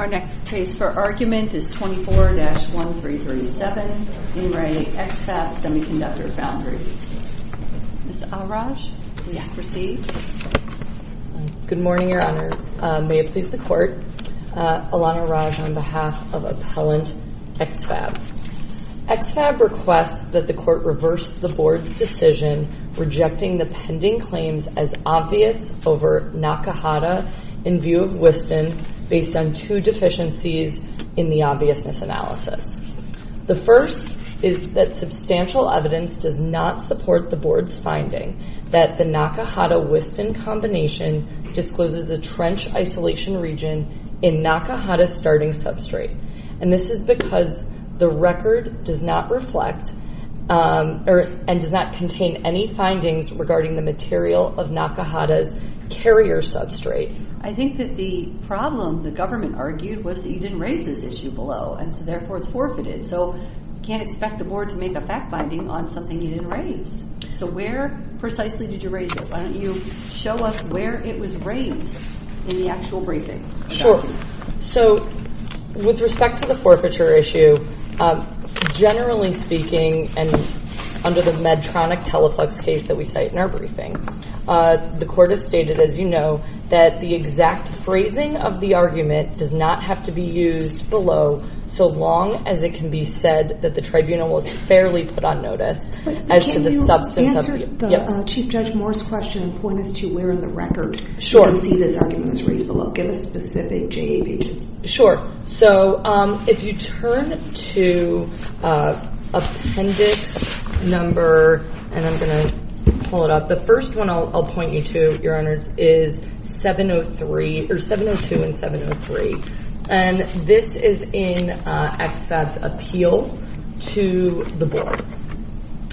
Our next case for argument is 24-1337, In Re. X-Fab Semiconductor Foundries. Ms. Al-Raj, will you proceed? Good morning, Your Honors. May it please the Court, Alana Raj on behalf of Appellant X-Fab. X-Fab requests that the Court reverse the Board's decision rejecting the pending claims as obvious over Nakahata in view of Wiston based on two deficiencies in the obviousness analysis. The first is that substantial evidence does not support the Board's finding that the Nakahata-Wiston combination discloses a trench isolation region in Nakahata's starting substrate, and this is because the record does not reflect or does not contain any findings regarding the material of Nakahata's carrier substrate. I think that the problem the government argued was that you didn't raise this issue below, and so therefore it's forfeited. So you can't expect the Board to make a fact-finding on something you didn't raise. So where precisely did you raise it? Why don't you show us where it was raised in the actual briefing? Sure. So with respect to the forfeiture issue, generally speaking, and under the Medtronic-Teleflex case that we cite in our briefing, the Court has stated, as you know, that the exact phrasing of the argument does not have to be used below so long as it can be said that the Tribunal was fairly put on notice as to the substance of it. But can you answer Chief Judge Moore's question of when is to where in the record you can see this argument was raised below? Give us specific J.A. pages. Sure. So if you turn to Appendix number, and I'm going to pull it up, the first one I'll point you to, Your Honors, is 702 and 703. And this is in EXFAB's appeal to the Board.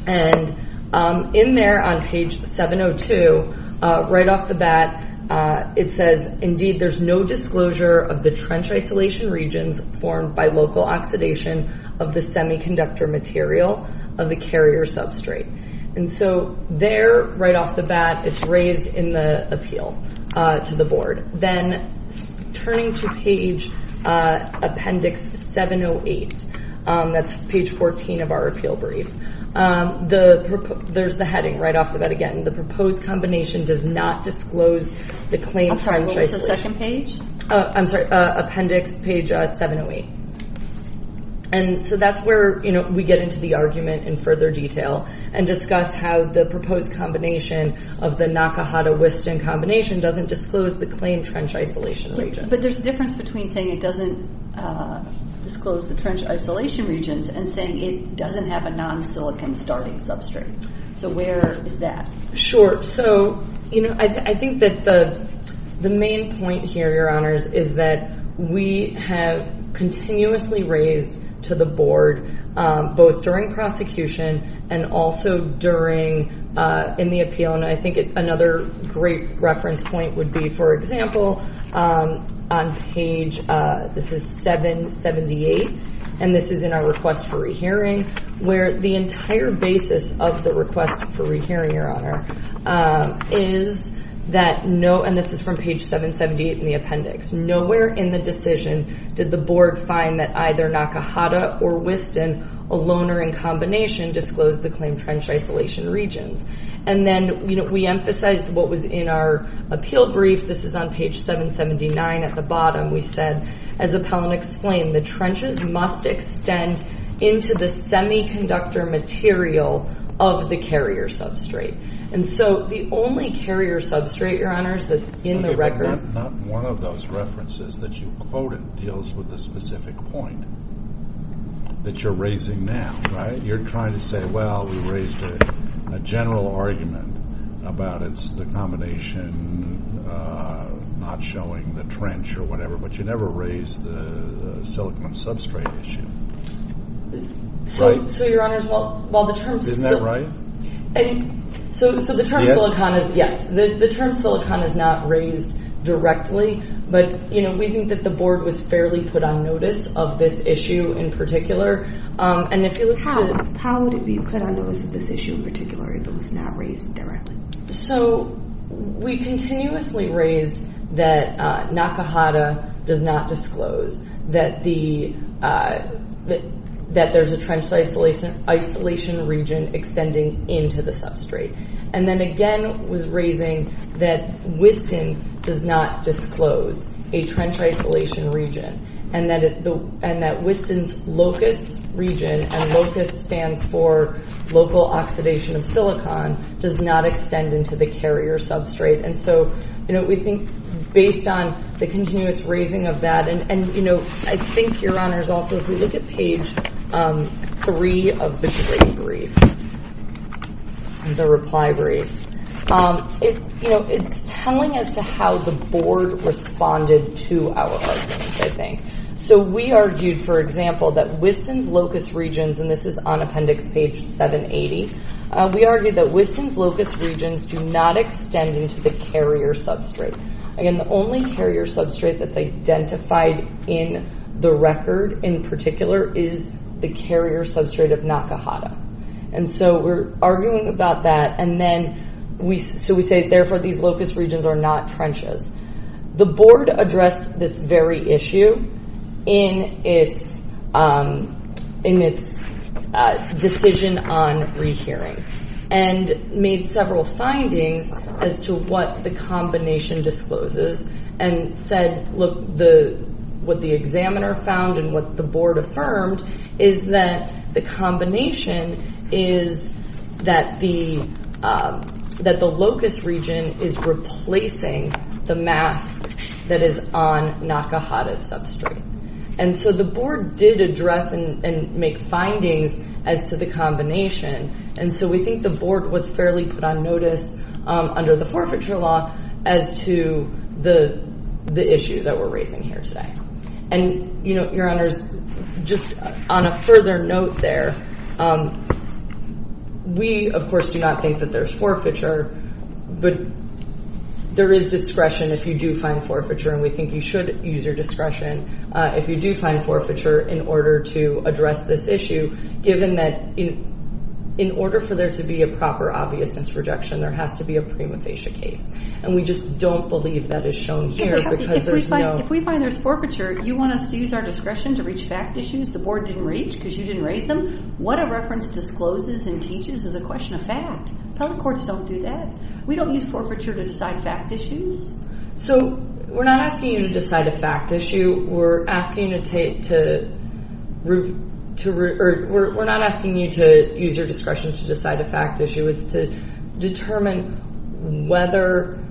And in there on page 702, right off the bat, it says, indeed, there's no disclosure of the trench isolation regions formed by local oxidation of the semiconductor material of the carrier substrate. And so there, right off the bat, it's raised in the appeal to the Board. Then turning to page Appendix 708, that's page 14 of our appeal brief, there's the heading right off the bat again. The proposed combination does not disclose the claim trench isolation. I'm sorry, what was the second page? I'm sorry, Appendix page 708. And so that's where we get into the argument in further detail and discuss how the proposed combination of the Nakahata-Wiston combination doesn't disclose the claim trench isolation region. But there's a difference between saying it doesn't disclose the trench isolation regions and saying it doesn't have a non-silicon starting substrate. So where is that? Sure. So I think that the main point here, Your Honors, is that we have continuously raised to the Board, both during prosecution and also during, in the appeal, and I think another great reference point would be, for example, on page, this is 778, and this is in our request for rehearing, where the entire basis of the request for rehearing, Your Honor, is that no, and this is from page 778 in the appendix, nowhere in the decision did the Board find that either Nakahata or Wiston, a loner in combination, disclosed the claim trench isolation regions. And then we emphasized what was in our appeal brief, this is on page 779 at the bottom, we said, as Appellant explained, the trenches must extend into the semiconductor material of the carrier substrate. And so the only carrier substrate, Your Honors, that's in the record... Not one of those references that you quoted deals with the specific point that you're raising now, right? You're trying to say, well, we raised a general argument about it's the combination not showing the trench or whatever, but you never raised the silicon substrate issue. So, Your Honors, while the terms... Isn't that right? So the term silicon is, yes, the term silicon is not raised directly, but we think that the Board was fairly put on notice of this issue in particular. And if you look to... How would it be put on notice of this issue in particular if it was not raised directly? So we continuously raised that Nakahata does not disclose that there's a trench isolation region extending into the substrate. And then again, was raising that Wiston does not disclose a trench isolation region, and that Wiston's LOCUS region, and LOCUS stands for Local Oxidation of Silicon, does not extend into the carrier substrate. And so we think based on the continuous raising of that, and I think, Your Honors, also if we look at page three of the brief, the reply brief, it's telling us to how the Board responded to our argument, I think. So we argued, for example, that Wiston's LOCUS regions, and this is on appendix page 780, we argued that Wiston's LOCUS regions do not extend into the carrier substrate. Again, the only carrier substrate that's identified in the record in particular is the carrier substrate of Nakahata. And so we're arguing about that, and then we... So we say, therefore, these LOCUS regions are not trenches. The Board addressed this very issue in its decision on rehearing, and made several findings as to what the combination discloses, and said, look, what the examiner found and what the Board affirmed is that the combination is that the LOCUS region is replacing the mask that is on Nakahata's substrate. And so the Board did address and make findings as to the combination, and so we think the Board was fairly put on notice under the forfeiture law as to the issue that we're raising here today. And, you know, Your Honors, just on a further note there, we, of course, do not think that there's forfeiture, but there is discretion if you do find forfeiture, and we think you should use your discretion if you do find forfeiture in order to address this issue, given that in order for there to be a proper obviousness rejection, there has to be a prima facie case. And we just don't believe that is shown here because there's no... If we find there's forfeiture, you want us to use our discretion to reach fact issues the Board didn't reach because you didn't raise them? What a reference discloses and teaches is a question of fact. Public courts don't do that. We don't use forfeiture to decide fact issues. So we're not asking you to decide a fact issue, we're asking you to use your discretion to decide a fact issue, it's to determine whether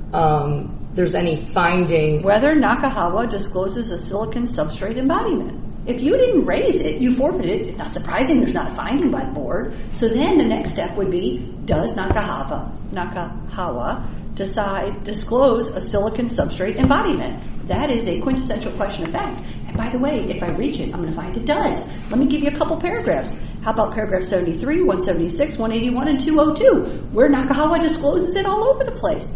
there's any finding... Whether Nakahawa discloses a silicon substrate embodiment. If you didn't raise it, you forfeited it, it's not surprising there's not a finding by the Board. So then the next step would be, does Nakahawa decide, disclose a silicon substrate embodiment? That is a quintessential question of fact. And by the way, if I reach it, I'm going to find it does. Let me give you a couple paragraphs. How about paragraph 73, 176, 181, and 202, where Nakahawa discloses it all over the place.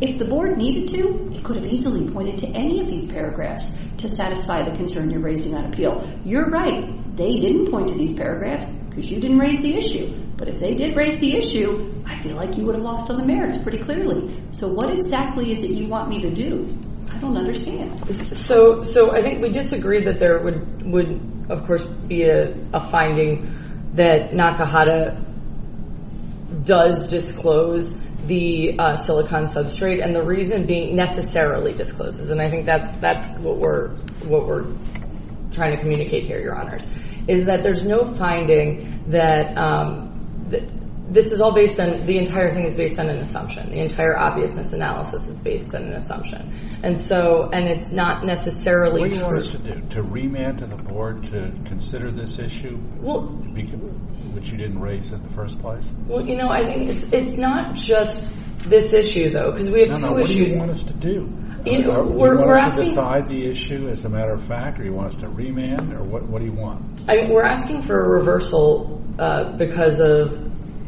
If the Board needed to, it could have easily pointed to any of these paragraphs to satisfy the concern you're raising on appeal. You're right. They didn't point to these paragraphs because you didn't raise the issue, but if they did raise the issue, I feel like you would have lost on the merits pretty clearly. So what exactly is it you want me to do, I don't understand. So I think we disagree that there would, of course, be a finding that Nakahawa does disclose the silicon substrate, and the reason being necessarily discloses. And I think that's what we're trying to communicate here, Your Honors, is that there's no finding that this is all based on, the entire thing is based on an assumption, the entire obviousness analysis is based on an assumption. And so, and it's not necessarily true. What do you want us to do, to remand to the Board to consider this issue, which you didn't raise in the first place? Well, you know, I think it's not just this issue, though, because we have two issues. No, no, what do you want us to do? We're asking... Do you want us to decide the issue, as a matter of fact, or do you want us to remand, or what do you want? We're asking for a reversal because of,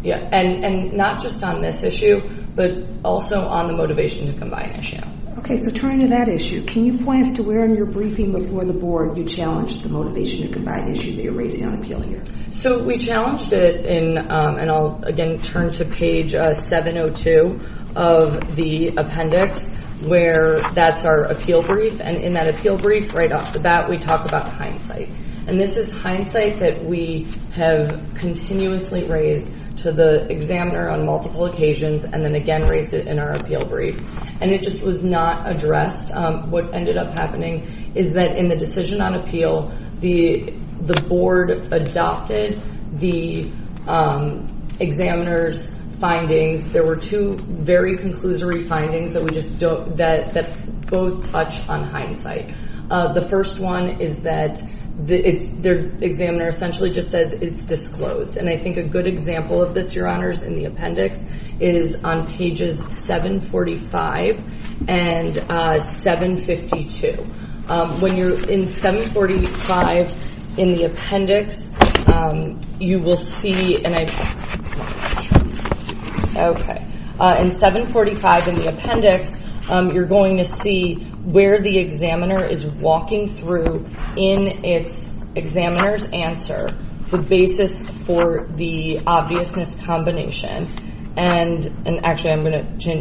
and not just on this issue, but also on the motivation to combine issue. Okay, so turning to that issue, can you point us to where in your briefing before the Board you challenged the motivation to combine issue that you're raising on appeal here? So we challenged it in, and I'll again turn to page 702 of the appendix, where that's our appeal brief, and in that appeal brief, right off the bat, we talk about hindsight. And this is hindsight that we have continuously raised to the examiner on multiple occasions, and then again raised it in our appeal brief. And it just was not addressed. What ended up happening is that in the decision on appeal, the Board adopted the examiner's There were two very conclusory findings that both touch on hindsight. The first one is that the examiner essentially just says it's disclosed, and I think a good example of this, Your Honors, in the appendix is on pages 745 and 752. When you're in 745 in the appendix, you will see, and I, okay, in 745 in the appendix, you're going to see where the examiner is walking through in its examiner's answer the basis for the obviousness combination, and actually,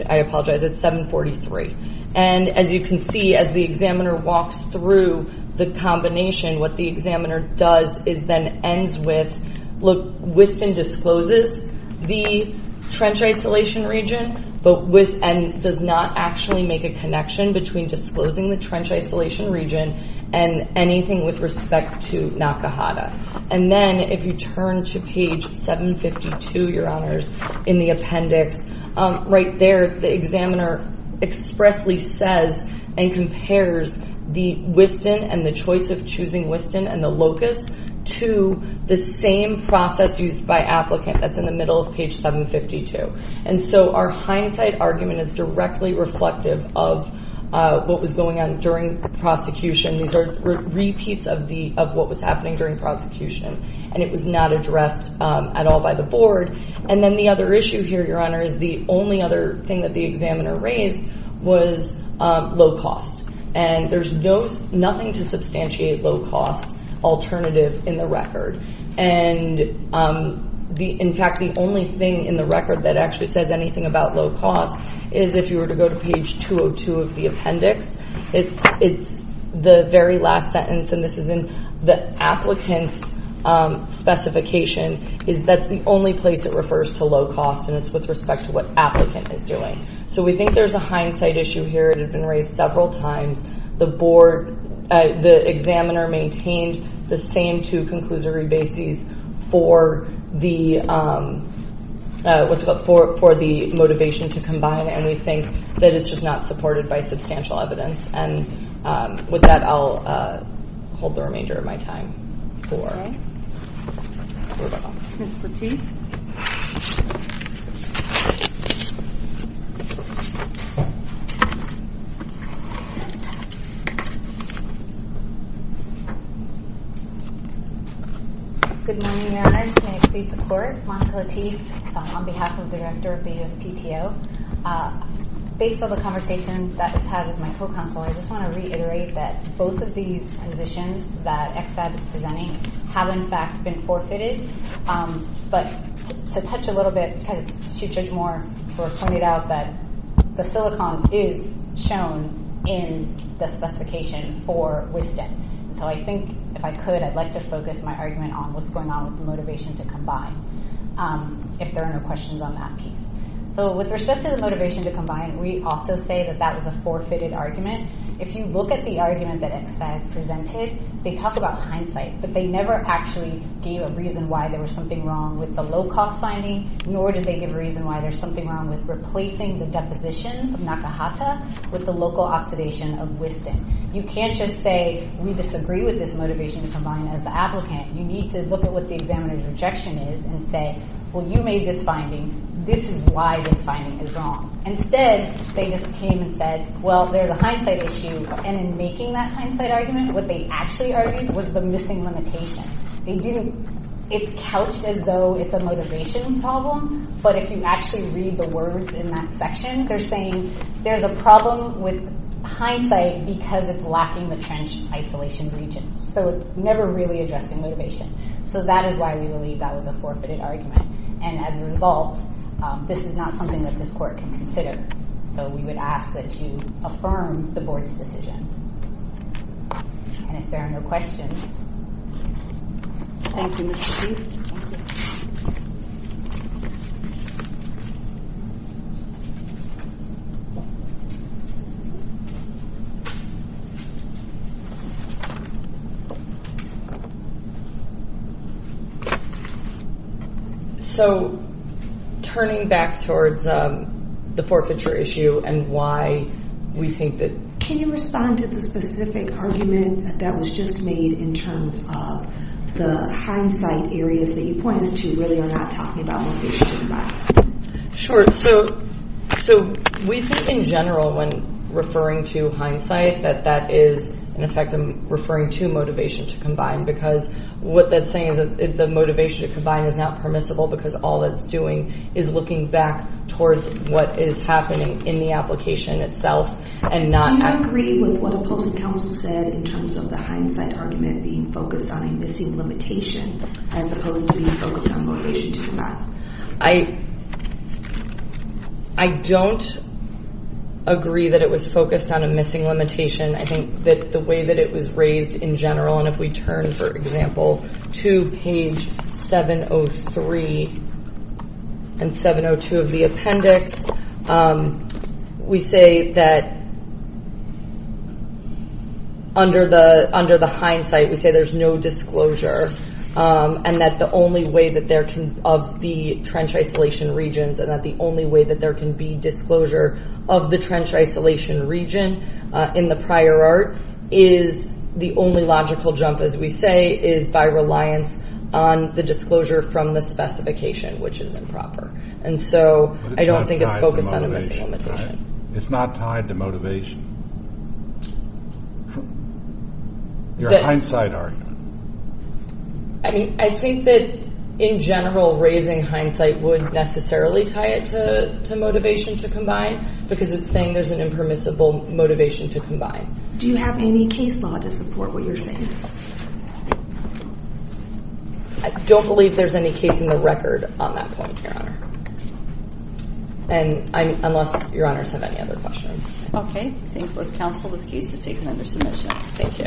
I apologize, it's 743. And as you can see, as the examiner walks through the combination, what the examiner does is then ends with, look, Wiston discloses the trench isolation region, and does not actually make a connection between disclosing the trench isolation region and anything with respect to Nakahata. And then, if you turn to page 752, Your Honors, in the appendix, right there, the examiner expressly says and compares the Wiston and the choice of choosing Wiston and the locust to the same process used by applicant that's in the middle of page 752. And so our hindsight argument is directly reflective of what was going on during prosecution. These are repeats of what was happening during prosecution, and it was not addressed at all by the board. And then the other issue here, Your Honor, is the only other thing that the examiner raised was locust. And there's nothing to substantiate locust alternative in the record, and in fact, the only thing in the record that actually says anything about locust is if you were to go to page 202 of the appendix, it's the very last sentence, and this is in the applicant's specification, is that's the only place it refers to locust, and it's with respect to what applicant is doing. So we think there's a hindsight issue here that had been raised several times. The board, the examiner maintained the same two conclusory bases for the, what's it called, for the motivation to combine, and we think that it's just not supported by substantial evidence. And with that, I'll hold the remainder of my time for rebuttal. Ms. Lateef? Good morning, Your Honor. May I please support Monica Lateef on behalf of the director of the USPTO? Based on the conversation that was had with my co-counsel, I just want to reiterate that both of these positions that EXPAD is presenting have, in fact, been forfeited, but to touch a little bit, because Chief Judge Moore sort of pointed out that the silicon is shown in the specification for WisDEN, and so I think, if I could, I'd like to focus my argument on what's going on with the motivation to combine, if there are no questions on that piece. So with respect to the motivation to combine, we also say that that was a forfeited argument. If you look at the argument that EXPAD presented, they talked about hindsight, but they never actually gave a reason why there was something wrong with the low-cost finding, nor did they give a reason why there's something wrong with replacing the deposition of Nakahata with the local oxidation of WisDEN. You can't just say, we disagree with this motivation to combine as the applicant. You need to look at what the examiner's rejection is and say, well, you made this finding, this is why this finding is wrong. Instead, they just came and said, well, there's a hindsight issue, and in making that hindsight argument, what they actually argued was the missing limitation. It's couched as though it's a motivation problem, but if you actually read the words in that section, they're saying there's a problem with hindsight because it's lacking the trench isolation regions. It's never really addressing motivation. That is why we believe that was a forfeited argument. As a result, this is not something that this Court can consider. We would ask that you affirm the Board's decision. If there are no questions... Thank you, Mr. Chief. So, turning back towards the forfeiture issue and why we think that... Can you respond to the specific argument that was just made in terms of the hindsight areas that you pointed to really are not talking about motivation by? Sure. So, we think in general when referring to hindsight that that is, in effect, referring to motivation to combine because what that's saying is that the motivation to combine is not permissible because all it's doing is looking back towards what is happening in the application itself and not... Do you agree with what opposing counsel said in terms of the hindsight argument being focused on a missing limitation as opposed to being focused on motivation to combine? I don't agree that it was focused on a missing limitation. I think that the way that it was raised in general and if we turn, for example, to page 703 and 702 of the appendix, we say that under the hindsight, we say there's no disclosure and that the only way that there can... Of the trench isolation regions and that the only way that there can be disclosure of the trench isolation region in the prior art is the only logical jump, as we say, is by reliance on the disclosure from the specification, which is improper. And so, I don't think it's focused on a missing limitation. It's not tied to motivation. Your hindsight argument. I mean, I think that in general, raising hindsight would necessarily tie it to motivation to combine. Do you have any case law to support what you're saying? I don't believe there's any case in the record on that point, Your Honor. And unless Your Honors have any other questions. Okay. Thank you both counsel. This case is taken under submission. Thank you.